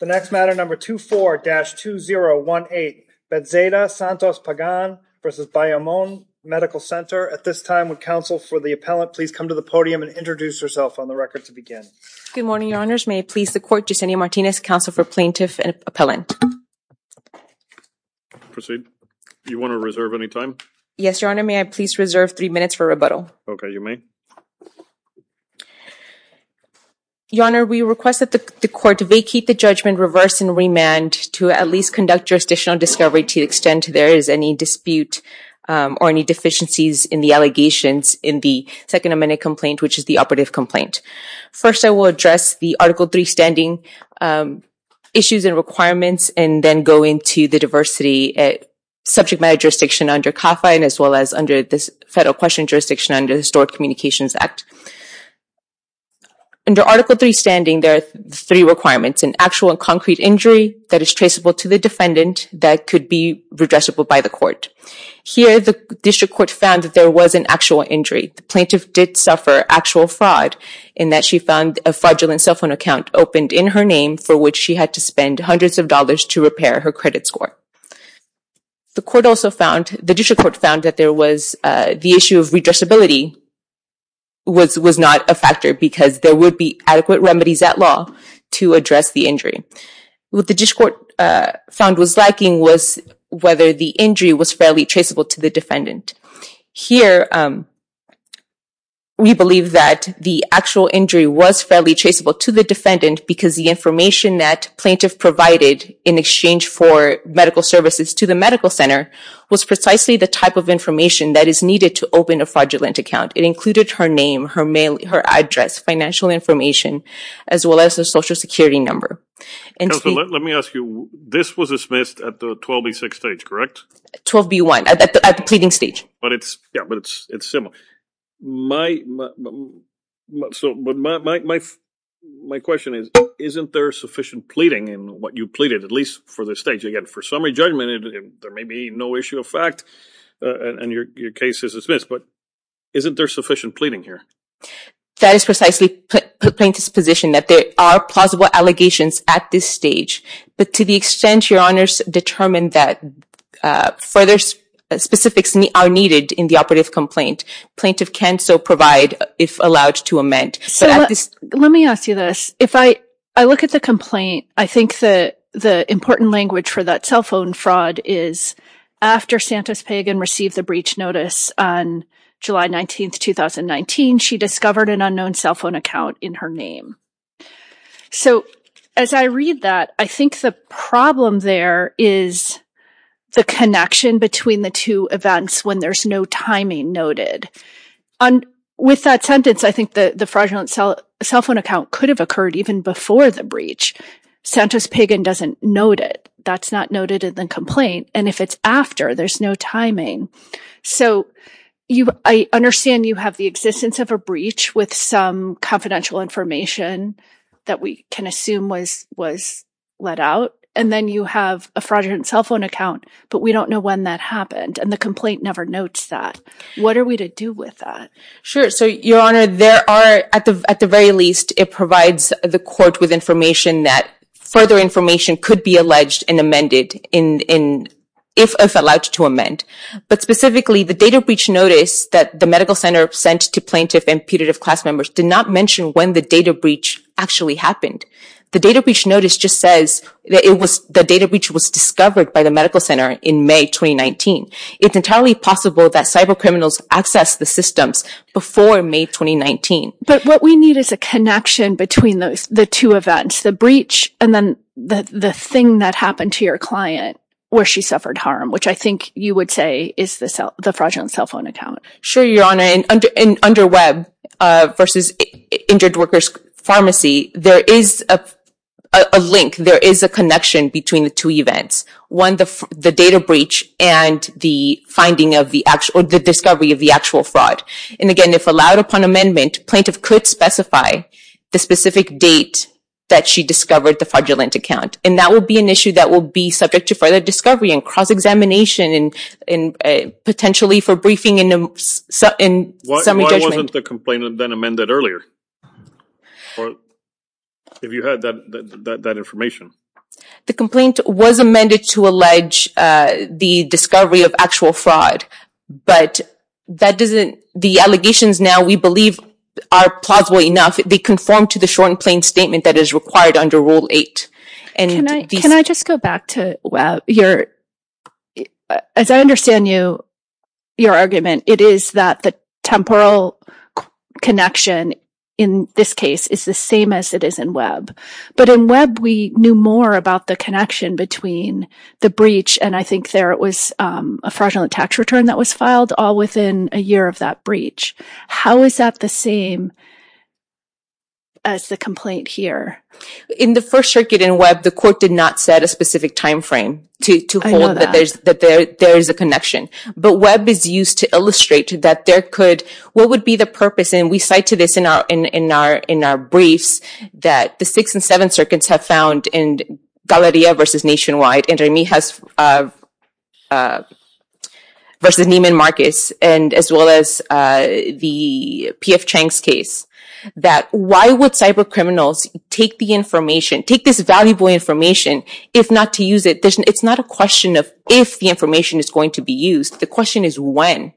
The next matter, number 24-2018, Betzeida-Santos-Pagan v. Bayamon Medical Center. At this time, would counsel for the appellant please come to the podium and introduce herself on the record to begin. Good morning, your honors. May I please the court, Yesenia Martinez, counsel for plaintiff and appellant. Proceed. Do you want to reserve any time? Yes, your honor. May I please reserve three minutes for rebuttal? Okay, you may. Your honor, we request that the court vacate the judgment, reverse, and remand to at least conduct jurisdictional discovery to the extent there is any dispute or any deficiencies in the allegations in the second amendment complaint, which is the operative complaint. First I will address the Article III standing issues and requirements and then go into the diversity at subject matter jurisdiction under CAFA and as well as under the federal question jurisdiction under the Stored Communications Act. Under Article III standing, there are three requirements, an actual and concrete injury that is traceable to the defendant that could be redressable by the court. Here the district court found that there was an actual injury. The plaintiff did suffer actual fraud in that she found a fraudulent cell phone account opened in her name for which she had to spend hundreds of dollars to repair her credit score. The district court found that the issue of redressability was not a factor because there would be adequate remedies at law to address the injury. What the district court found was lacking was whether the injury was fairly traceable to the defendant. Here we believe that the actual injury was fairly traceable to the defendant because the information that plaintiff provided in exchange for medical services to the medical center was precisely the type of information that is needed to open a fraudulent account. It included her name, her address, financial information, as well as her social security number. Counselor, let me ask you, this was dismissed at the 12B6 stage, correct? 12B1, at the pleading stage. But it's similar. My question is, isn't there sufficient pleading in what you pleaded, at least for this stage? Again, for summary judgment, there may be no issue of fact and your case is dismissed, but isn't there sufficient pleading here? That is precisely the plaintiff's position, that there are plausible allegations at this stage, but to the extent your honors determine that further specifics are needed in the operative complaint, plaintiff can still provide, if allowed to amend. Let me ask you this. If I look at the complaint, I think that the important language for that cell phone fraud is after Santa's Pagan received the breach notice on July 19th, 2019, she discovered an unknown cell phone account in her name. So as I read that, I think the problem there is the connection between the two events when there's no timing noted. With that sentence, I think the fraudulent cell phone account could have occurred even before the breach. Santa's Pagan doesn't note it. That's not noted in the complaint. And if it's after, there's no timing. So I understand you have the existence of a breach with some confidential information that we can assume was let out. And then you have a fraudulent cell phone account, but we don't know when that happened and the complaint never notes that. What are we to do with that? Sure. So your honor, there are, at the very least, it provides the court with information that further information could be alleged and amended if allowed to amend. But specifically the data breach notice that the medical center sent to plaintiff and putative class members did not mention when the data breach actually happened. The data breach notice just says that the data breach was discovered by the medical center in May, 2019. It's entirely possible that cyber criminals access the systems before May, 2019. But what we need is a connection between those, the two events, the breach, and then the thing that happened to your client where she suffered harm, which I think you would say is the fraudulent cell phone account. Sure. Your honor. And under web versus injured workers pharmacy, there is a link, there is a connection between the two events. One, the data breach and the finding of the actual, or the discovery of the actual fraud. And again, if allowed upon amendment, plaintiff could specify the specific date that she discovered the fraudulent account. And that will be an issue that will be subject to further discovery and cross-examination and potentially for briefing in summary judgment. Why wasn't the complaint then amended earlier? If you had that information. The complaint was amended to allege the discovery of actual fraud, but that doesn't, the allegations now we believe are plausible enough. They conform to the short and plain statement that is required under rule eight. Can I just go back to your, as I understand you, your argument, it is that the temporal connection in this case is the same as it is in web. But in web, we knew more about the connection between the breach. And I think there, it was a fraudulent tax return that was filed all within a year of that breach. How is that the same as the complaint here? In the first circuit in web, the court did not set a specific timeframe to hold that there is a connection, but web is used to illustrate that there could, what would be the purpose, and we cite to this in our briefs, that the six and seven circuits have found in Galleria versus Nationwide, and Remijes versus Neiman Marcus, and as well as the P.F. Chang's case, that why would cyber criminals take the information, take this valuable information, if not to use it? It's not a question of if the information is going to be used. The question is when.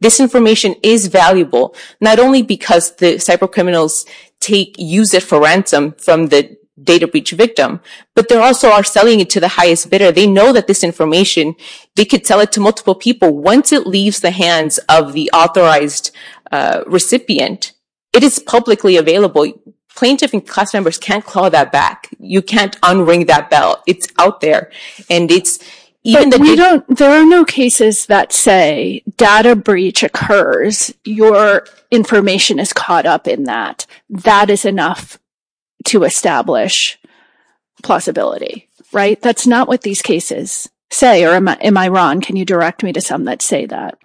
This information is valuable, not only because the cyber criminals take, use it for ransom from the data breach victim, but they also are selling it to the highest bidder. They know that this information, they could sell it to multiple people once it leaves the hands of the authorized recipient. It is publicly available. Plaintiff and class members can't call that back. You can't un-ring that bell. It's out there. There are no cases that say data breach occurs, your information is caught up in that. That is enough to establish plausibility, right? That's not what these cases say, or am I wrong? Can you direct me to some that say that?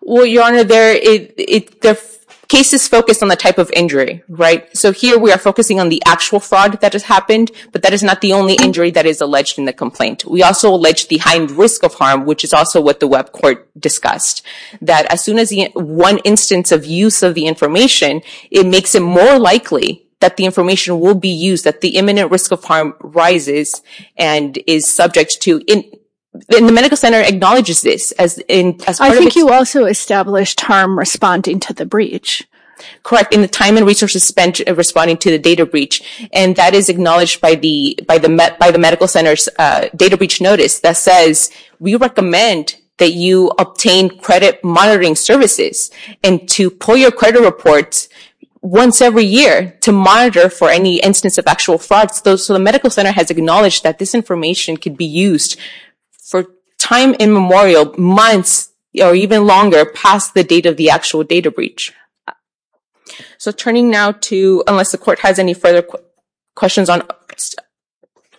Well, Your Honor, the case is focused on the type of injury, right? So here we are focusing on the actual fraud that has happened, but that is not the only injury that is alleged in the complaint. We also allege the heightened risk of harm, which is also what the web court discussed. That as soon as one instance of use of the information, it makes it more likely that the information will be used, that the imminent risk of harm rises and is subject to... And the medical center acknowledges this as part of its- I think you also established harm responding to the breach. Correct. In the time and resources spent responding to the data breach, and that is acknowledged by the medical center's data breach notice that says, we recommend that you obtain credit monitoring services and to pull your credit reports once every year to monitor for any instance of actual fraud. So the medical center has acknowledged that this information could be used for time immemorial, months or even longer past the date of the actual data breach. So turning now to, unless the court has any further questions on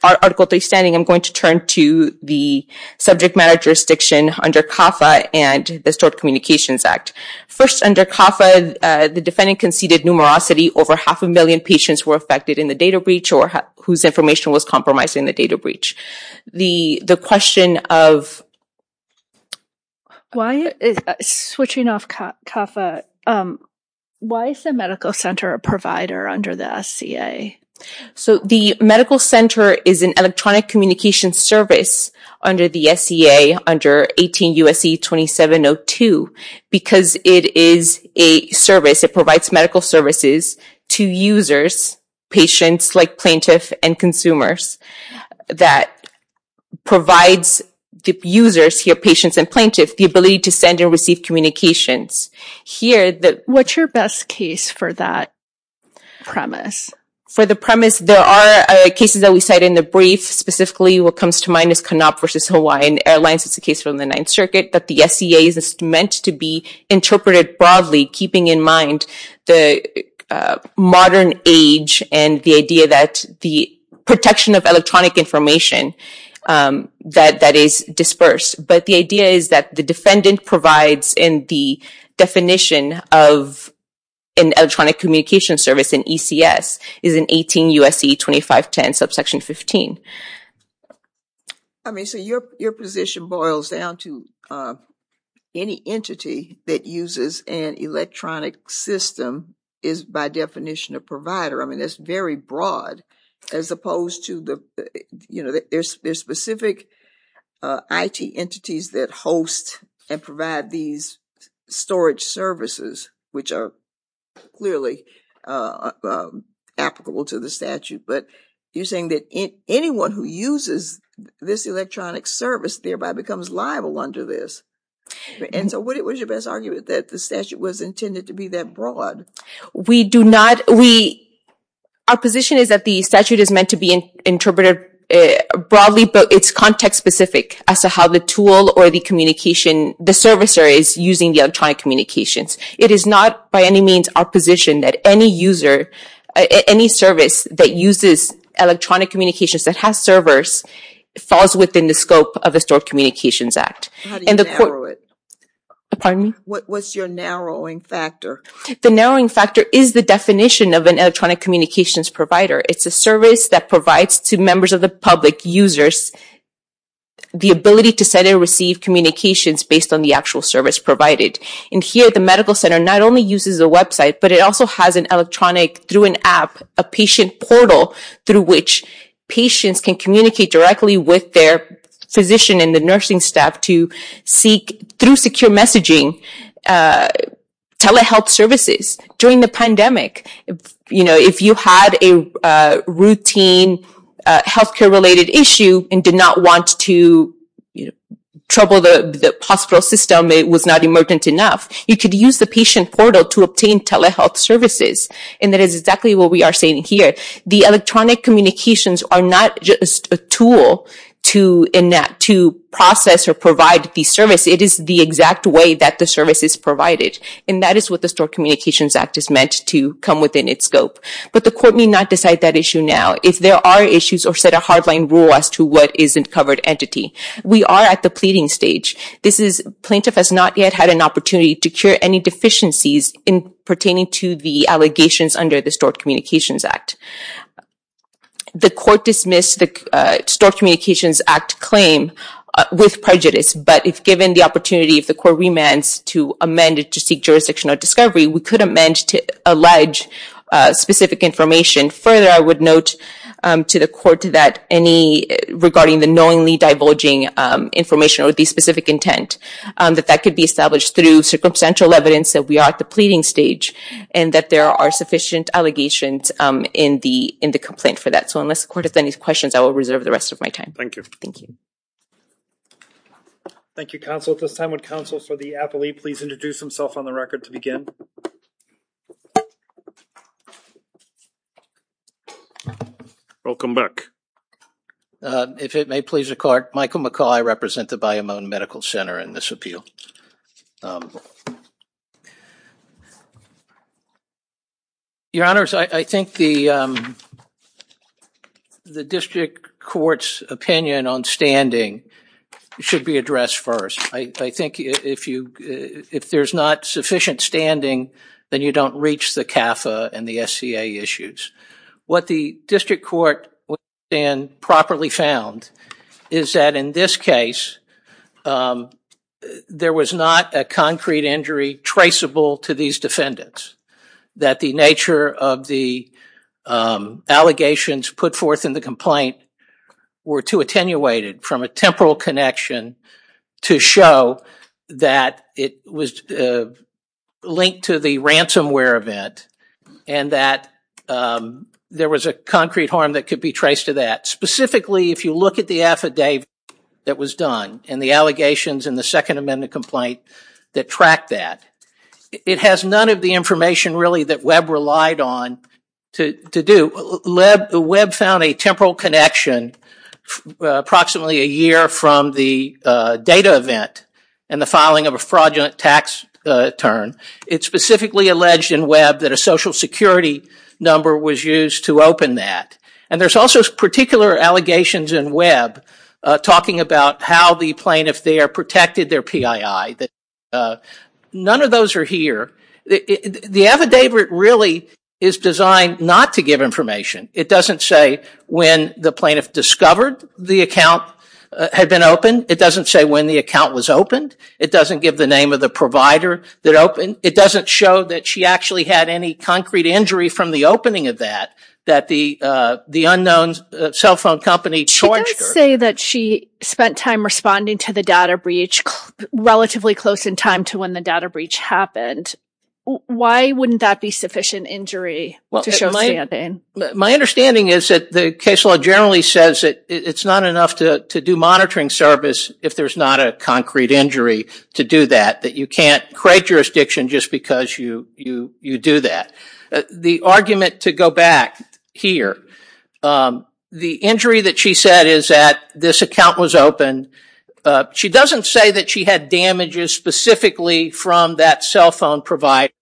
Article 3 standing, I'm going to turn to the subject matter jurisdiction under CAFA and the Stored Communications Act. First, under CAFA, the defendant conceded numerosity over half a million patients were affected in the data breach or whose information was compromised in the data breach. The question of- Switching off CAFA, why is the medical center a provider under the SCA? So the medical center is an electronic communication service under the SCA under 18 U.S.C. 2702 because it is a service, it provides medical services to users, patients like plaintiff and consumers, that provides the users here, patients and plaintiff, the ability to send and receive communications. Here the- What's your best case for that premise? For the premise, there are cases that we cite in the brief, specifically what comes to mind is Canop versus Hawaiian Airlines. It's a case from the Ninth Circuit that the SCA is meant to be interpreted broadly, keeping in mind the modern age and the idea that the protection of electronic information that is dispersed. But the idea is that the defendant provides in the definition of an electronic communication service, an ECS, is an 18 U.S.C. 2510 subsection 15. I mean, so your position boils down to any entity that uses an electronic system is by definition a provider. I mean, that's very broad as opposed to the, you know, there's specific IT entities that host and provide these storage services, which are clearly applicable to the statute. But you're saying that anyone who uses this electronic service thereby becomes liable under this. And so what is your best argument that the statute was intended to be that broad? We do not, we, our position is that the statute is meant to be interpreted broadly, but it's context specific as to how the tool or the communication, the servicer is using the electronic communications. It is not by any means our position that any user, any service that uses electronic communications that has servers falls within the scope of the Stored Communications Act. How do you narrow it? Pardon me? What's your narrowing factor? The narrowing factor is the definition of an electronic communications provider. It's a service that provides to members of the public, users, the ability to send and receive communications based on the actual service provided. And here at the medical center, not only uses a website, but it also has an electronic through an app, a patient portal through which patients can communicate directly with their physician and the nursing staff to seek through secure messaging, telehealth services during the pandemic. You know, if you had a routine healthcare related issue and did not want to trouble the hospital system, it was not emergent enough, you could use the patient portal to obtain telehealth services. And that is exactly what we are saying here. The electronic communications are not just a tool to process or provide the service. It is the exact way that the service is provided. And that is what the Stored Communications Act is meant to come within its scope. But the court may not decide that issue now. If there are issues or set a hard line rule as to what is a covered entity. We are at the pleading stage. Plaintiff has not yet had an opportunity to cure any deficiencies pertaining to the allegations under the Stored Communications Act. The court dismissed the Stored Communications Act claim with prejudice, but if given the opportunity of the court remands to amend it to seek jurisdictional discovery, we could amend to allege specific information. Further, I would note to the court that any regarding the knowingly divulging information or the specific intent, that that could be established through circumstantial evidence that we are at the pleading stage and that there are sufficient allegations in the complaint for that. So unless the court has any questions, I will reserve the rest of my time. Thank you. Thank you. Thank you, counsel. At this time, would counsel for the appellee please introduce himself on the record to Welcome back. If it may please the court, Michael McCaul, I represent the Bayou Moune Medical Center in this appeal. Your honors, I think the district court's opinion on standing should be addressed first. I think if there's not sufficient standing, then you don't reach the CAFA and the SCA issues. What the district court properly found is that in this case, there was not a concrete injury traceable to these defendants. That the nature of the allegations put forth in the complaint were too attenuated from a temporal connection to show that it was linked to the ransomware event and that there was a concrete harm that could be traced to that. Specifically, if you look at the affidavit that was done and the allegations in the second amendment complaint that tracked that, it has none of the information really that Webb relied on to do. Webb found a temporal connection approximately a year from the data event and the filing of a fraudulent tax return. It specifically alleged in Webb that a social security number was used to open that. There's also particular allegations in Webb talking about how the plaintiff there protected their PII. None of those are here. The affidavit really is designed not to give information. It doesn't say when the plaintiff discovered the account had been opened. It doesn't say when the account was opened. It doesn't give the name of the provider that opened. It doesn't show that she actually had any concrete injury from the opening of that, that the unknown cell phone company charged her. She does say that she spent time responding to the data breach relatively close in time to when the data breach happened. Why wouldn't that be sufficient injury to show my understanding? My understanding is that the case law generally says that it's not enough to do monitoring service if there's not a concrete injury to do that, that you can't create jurisdiction just because you do that. The argument to go back here, the injury that she said is that this account was opened. She doesn't say that she had damages specifically from that cell phone provider.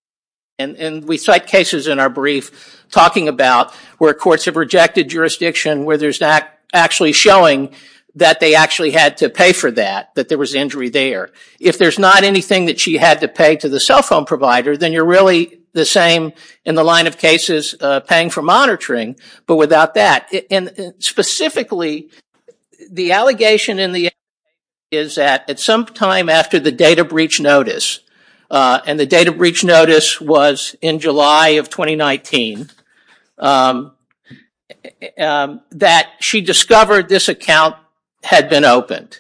We cite cases in our brief talking about where courts have rejected jurisdiction where there's not actually showing that they actually had to pay for that, that there was injury there. If there's not anything that she had to pay to the cell phone provider, then you're really the same in the line of cases paying for monitoring, but without that. Specifically, the allegation in the... is that at some time after the data breach notice, and the data breach notice was in July of 2019, that she discovered this account had been opened.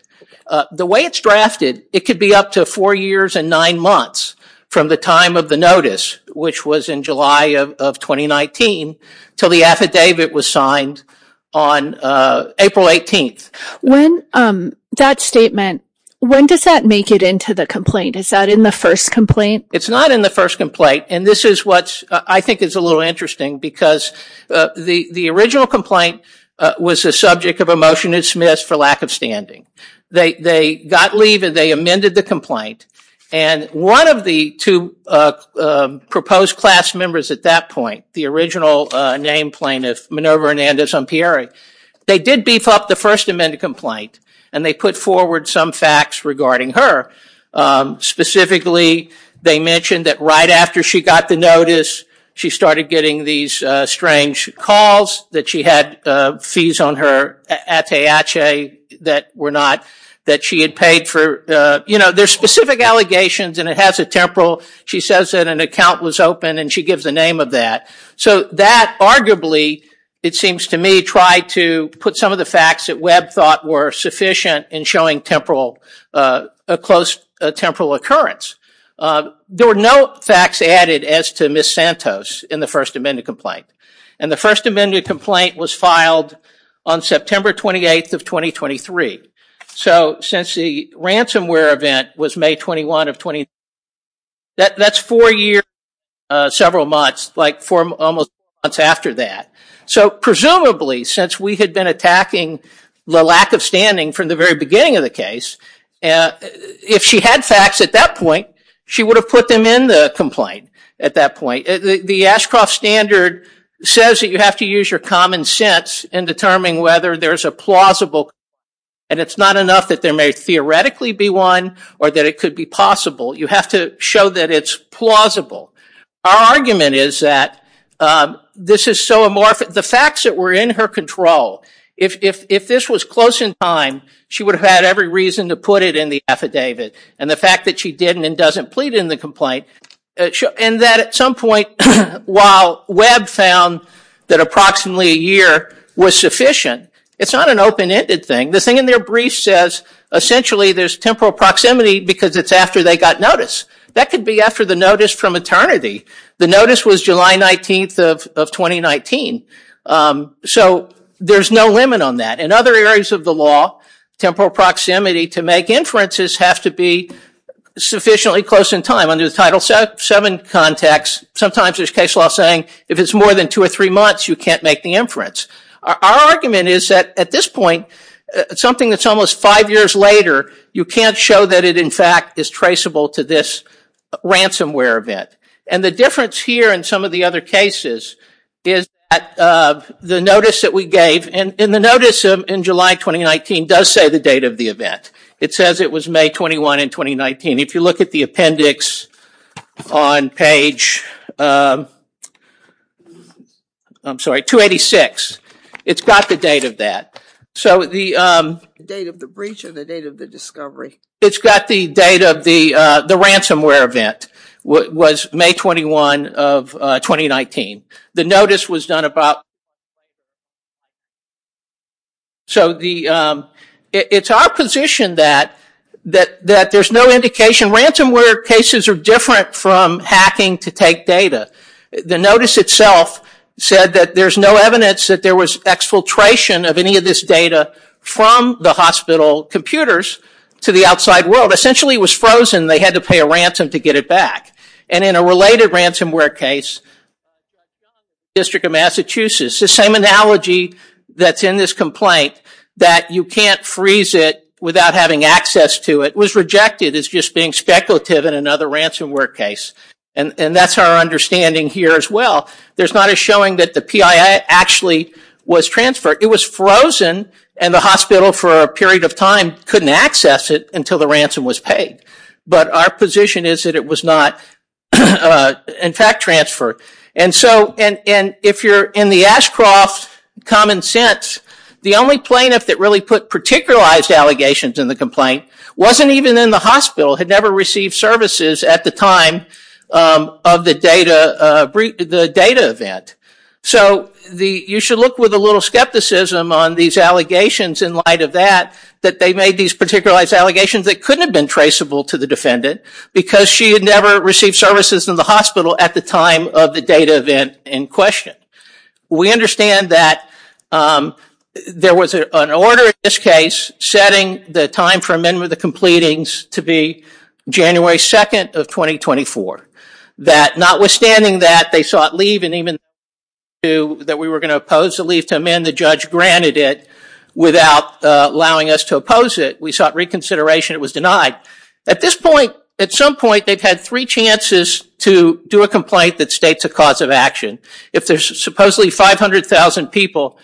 The way it's drafted, it could be up to four years and nine months from the time of the on April 18th. That statement, when does that make it into the complaint? Is that in the first complaint? It's not in the first complaint. This is what I think is a little interesting because the original complaint was the subject of a motion that's missed for lack of standing. They got leave and they amended the complaint. One of the two proposed class members at that point, the original name plaintiff, Minerva Hernandez-Ompieri, they did beef up the First Amendment complaint and they put forward some facts regarding her. Specifically, they mentioned that right after she got the notice, she started getting these strange calls that she had fees on her, atayache, that were not... that she had paid for. There's specific allegations and it has a temporal. She says that an account was opened and she gives the name of that. That arguably, it seems to me, tried to put some of the facts that Webb thought were sufficient in showing a close temporal occurrence. There were no facts added as to Ms. Santos in the First Amendment complaint. The First Amendment complaint was filed on September 28th of 2023. Since the ransomware event was May 21st of... that's four years, several months, like four almost months after that. Presumably, since we had been attacking the lack of standing from the very beginning of the case, if she had facts at that point, she would have put them in the complaint at that point. The Ashcroft Standard says that you have to use your common sense in determining whether there's a plausible... and it's not enough that there may theoretically be one or that it could be possible. You have to show that it's plausible. Our argument is that this is so amorphous... the facts that were in her control, if this was close in time, she would have had every reason to put it in the affidavit. The fact that she didn't and doesn't plead in the complaint... and that at some point, while Webb found that approximately a year was sufficient, it's not an open-ended thing. The thing in their brief says, essentially, there's temporal proximity because it's after they got notice. That could be after the notice from eternity. The notice was July 19th of 2019. There's no limit on that. In other areas of the law, temporal proximity to make inferences have to be sufficiently close in time. Under the Title VII context, sometimes there's case law saying, if it's more than two or three months, you can't make the inference. Our argument is that, at this point, something that's almost five years later, you can't show that it, in fact, is traceable to this ransomware event. The difference here in some of the other cases is that the notice that we gave... and the notice in July 2019 does say the date of the event. It says it was May 21 in 2019. If you look at the appendix on page... I'm sorry, 286. It's got the date of that. The date of the breach and the date of the discovery. It's got the date of the ransomware event was May 21 of 2019. The notice was done about... It's our position that there's no indication. Ransomware cases are different from hacking to take data. The notice itself said that there's no evidence that there was exfiltration of any of this data from the hospital computers to the outside world. Essentially, it was frozen. They had to pay a ransom to get it back. In a related ransomware case, the District of Massachusetts, the same analogy that's in this complaint, that you can't freeze it without having access to it, was rejected as just being speculative in another ransomware case. That's our understanding here as well. There's not a showing that the PII actually was transferred. It was frozen and the hospital for a period of time couldn't access it until the ransom was paid. Our position is that it was not in fact transferred. If you're in the Ashcroft common sense, the only plaintiff that really put particularized allegations in the complaint wasn't even in the hospital, had never received services at the time of the data event. You should look with a little skepticism on these allegations in light of that, that they made these particularized allegations that couldn't have been traceable to the defendant because she had never received services in the hospital at the time of the data event in question. We understand that there was an order in this case setting the time for amendment of the completings to be January 2nd of 2024, that notwithstanding that they sought leave and even that we were going to oppose the leave to amend, the judge granted it without allowing us to oppose it. We sought reconsideration. It was denied. At this point, at some point, they've had three chances to do a complaint that states a cause of action. If there's supposedly 500,000 people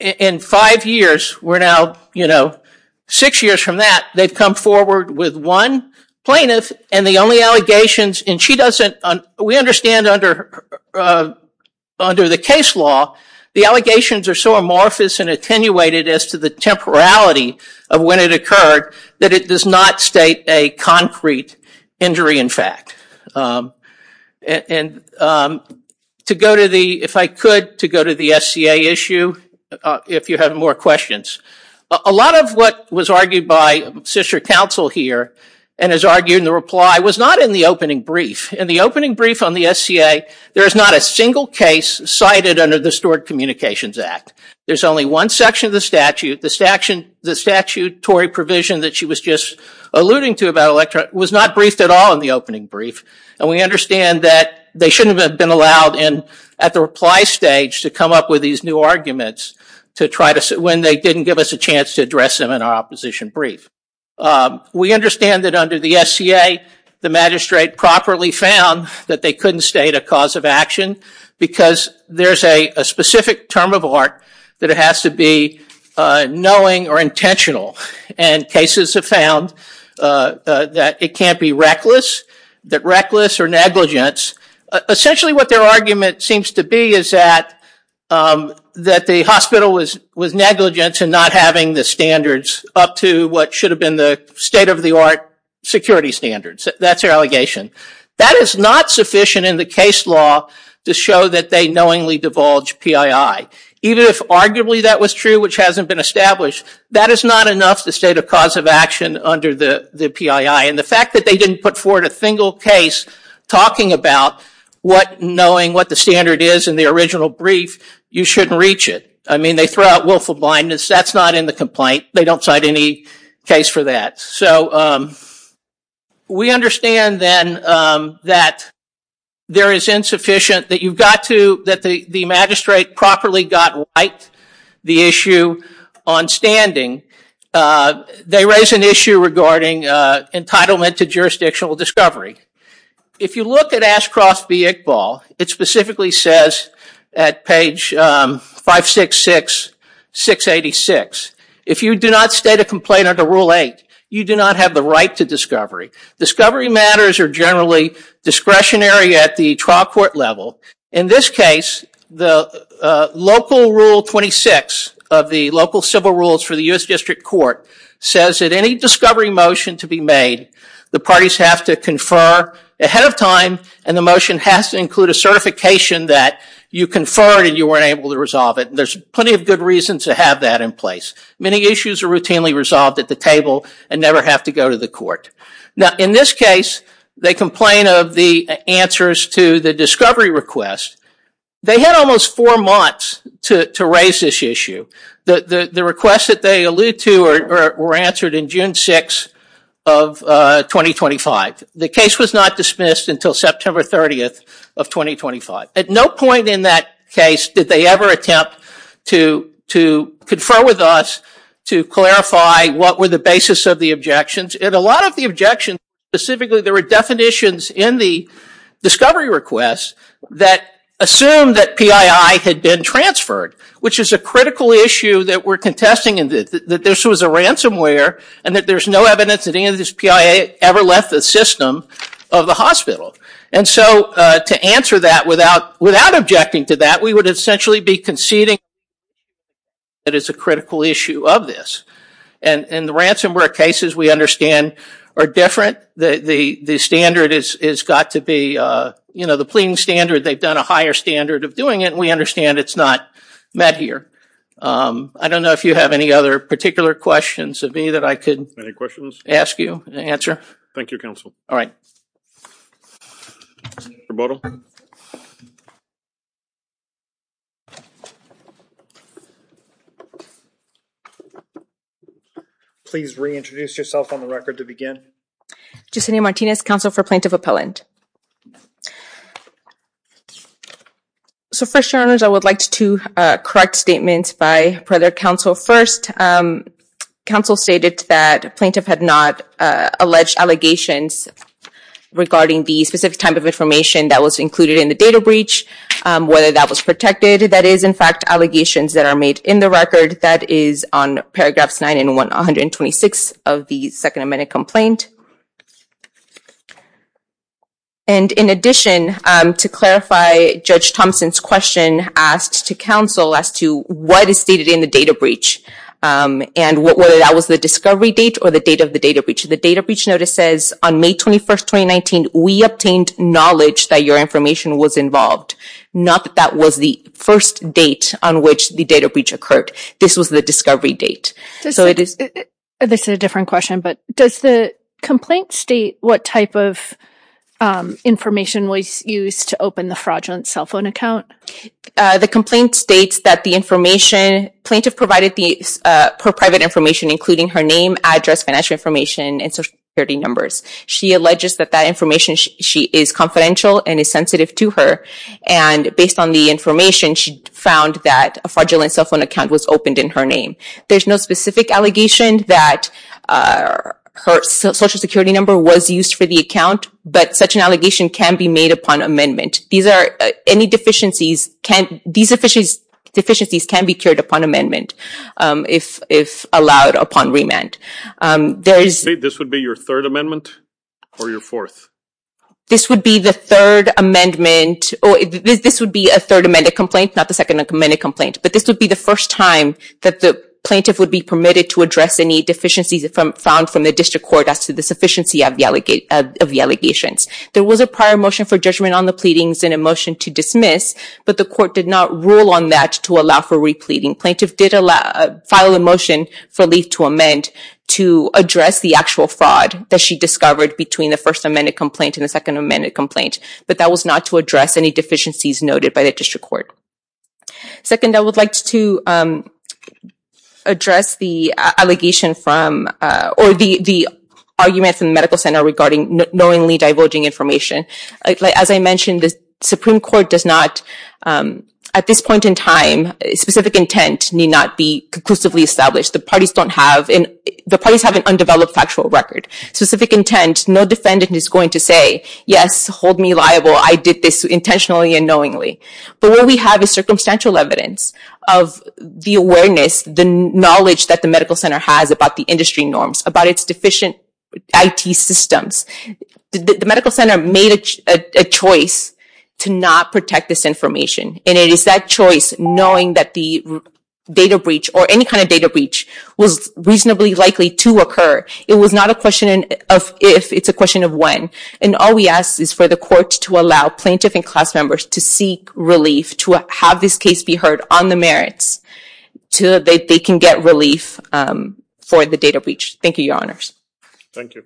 in five years, we're now six years from that, they've come forward with one plaintiff and the only allegations, and we understand under the case law the allegations are so amorphous and attenuated as to the temporality of when it occurred that it does not state a concrete injury in fact. And to go to the, if I could, to go to the SCA issue, if you have more questions, a lot of what was argued by sister counsel here and has argued in the reply was not in the opening brief. In the opening brief on the SCA, there is not a single case cited under the Stored Communications Act. There's only one section of the statute, the statutory provision that she was just alluding to about electronic, was not briefed at all in the opening brief, and we understand that they shouldn't have been allowed in at the reply stage to come up with these new arguments to try to, when they didn't give us a chance to address them in our opposition brief. We understand that under the SCA, the magistrate properly found that they couldn't state a clause of action because there's a specific term of art that it has to be knowing or intentional and cases have found that it can't be reckless, that reckless or negligence, essentially what their argument seems to be is that the hospital was negligent in not having the standards up to what should have been the state of the art security standards. That's their allegation. That is not sufficient in the case law to show that they knowingly divulge PII. Even if arguably that was true, which hasn't been established, that is not enough the state of cause of action under the PII, and the fact that they didn't put forward a single case talking about what knowing what the standard is in the original brief, you shouldn't reach it. I mean, they throw out willful blindness, that's not in the complaint. They don't cite any case for that. So we understand then that there is insufficient, that you've got to, that the magistrate properly got right the issue on standing. They raise an issue regarding entitlement to jurisdictional discovery. If you look at Ash Cross v. Iqbal, it specifically says at page 566, 686, if you do not state a complaint under Rule 8, you do not have the right to discovery. Discovery matters are generally discretionary at the trial court level. In this case, the local Rule 26 of the local civil rules for the U.S. District Court says that any discovery motion to be made, the parties have to confer ahead of time, and the motion has to include a certification that you conferred and you weren't able to resolve it. There's plenty of good reasons to have that in place. Many issues are routinely resolved at the table and never have to go to the court. Now, in this case, they complain of the answers to the discovery request. They had almost four months to raise this issue. The requests that they allude to were answered in June 6 of 2025. The case was not dismissed until September 30th of 2025. At no point in that case did they ever attempt to confer with us to clarify what were the basis of the objections. In a lot of the objections, specifically, there were definitions in the discovery request that assumed that PII had been transferred, which is a critical issue that we're contesting in that this was a ransomware and that there's no evidence that any of this PII ever left the system of the hospital. And so, to answer that without objecting to that, we would essentially be conceding that it's a critical issue of this. In the ransomware cases, we understand are different. The standard has got to be, you know, the pleading standard, they've done a higher standard of doing it. We understand it's not met here. I don't know if you have any other particular questions of me that I could ask you to answer. Thank you, Counsel. All right. Mr. Bodom. Please reintroduce yourself on the record to begin. Yesenia Martinez, Counsel for Plaintiff Appellant. So, first, Your Honors, I would like to correct statements by further counsel. So first, counsel stated that plaintiff had not alleged allegations regarding the specific type of information that was included in the data breach, whether that was protected. That is, in fact, allegations that are made in the record. That is on paragraphs 9 and 126 of the Second Amendment complaint. And in addition, to clarify Judge Thompson's question asked to counsel as to what is stated in the data breach and whether that was the discovery date or the date of the data breach. The data breach notice says on May 21st, 2019, we obtained knowledge that your information was involved. Not that that was the first date on which the data breach occurred. This was the discovery date. So it is. This is a different question, but does the complaint state what type of information was used to open the fraudulent cell phone account? The complaint states that the information, plaintiff provided the private information including her name, address, financial information, and Social Security numbers. She alleges that that information, she is confidential and is sensitive to her. And based on the information, she found that a fraudulent cell phone account was opened in her name. There's no specific allegation that her Social Security number was used for the account, but such an allegation can be made upon amendment. These are, any deficiencies can, these deficiencies can be cured upon amendment, if allowed upon remand. There is... So this would be your third amendment or your fourth? This would be the third amendment, or this would be a third amended complaint, not the second amended complaint. But this would be the first time that the plaintiff would be permitted to address any deficiencies found from the district court as to the sufficiency of the allegations. There was a prior motion for judgment on the pleadings and a motion to dismiss, but the court did not rule on that to allow for re-pleading. Plaintiff did file a motion for leave to amend to address the actual fraud that she discovered between the first amended complaint and the second amended complaint, but that was not to address any deficiencies noted by the district court. Second, I would like to address the allegation from, or the argument from the medical center regarding knowingly divulging information. As I mentioned, the Supreme Court does not, at this point in time, specific intent need not be conclusively established. The parties don't have, the parties have an undeveloped factual record. Specific intent, no defendant is going to say, yes, hold me liable, I did this intentionally and knowingly. But what we have is circumstantial evidence of the awareness, the knowledge that the medical center has about the industry norms, about its deficient IT systems. The medical center made a choice to not protect this information, and it is that choice knowing that the data breach, or any kind of data breach, was reasonably likely to occur. It was not a question of if, it's a question of when, and all we ask is for the court to allow plaintiff and class members to seek relief, to have this case be heard on the merits, so that they can get relief for the data breach. Thank you, your honors. Thank you.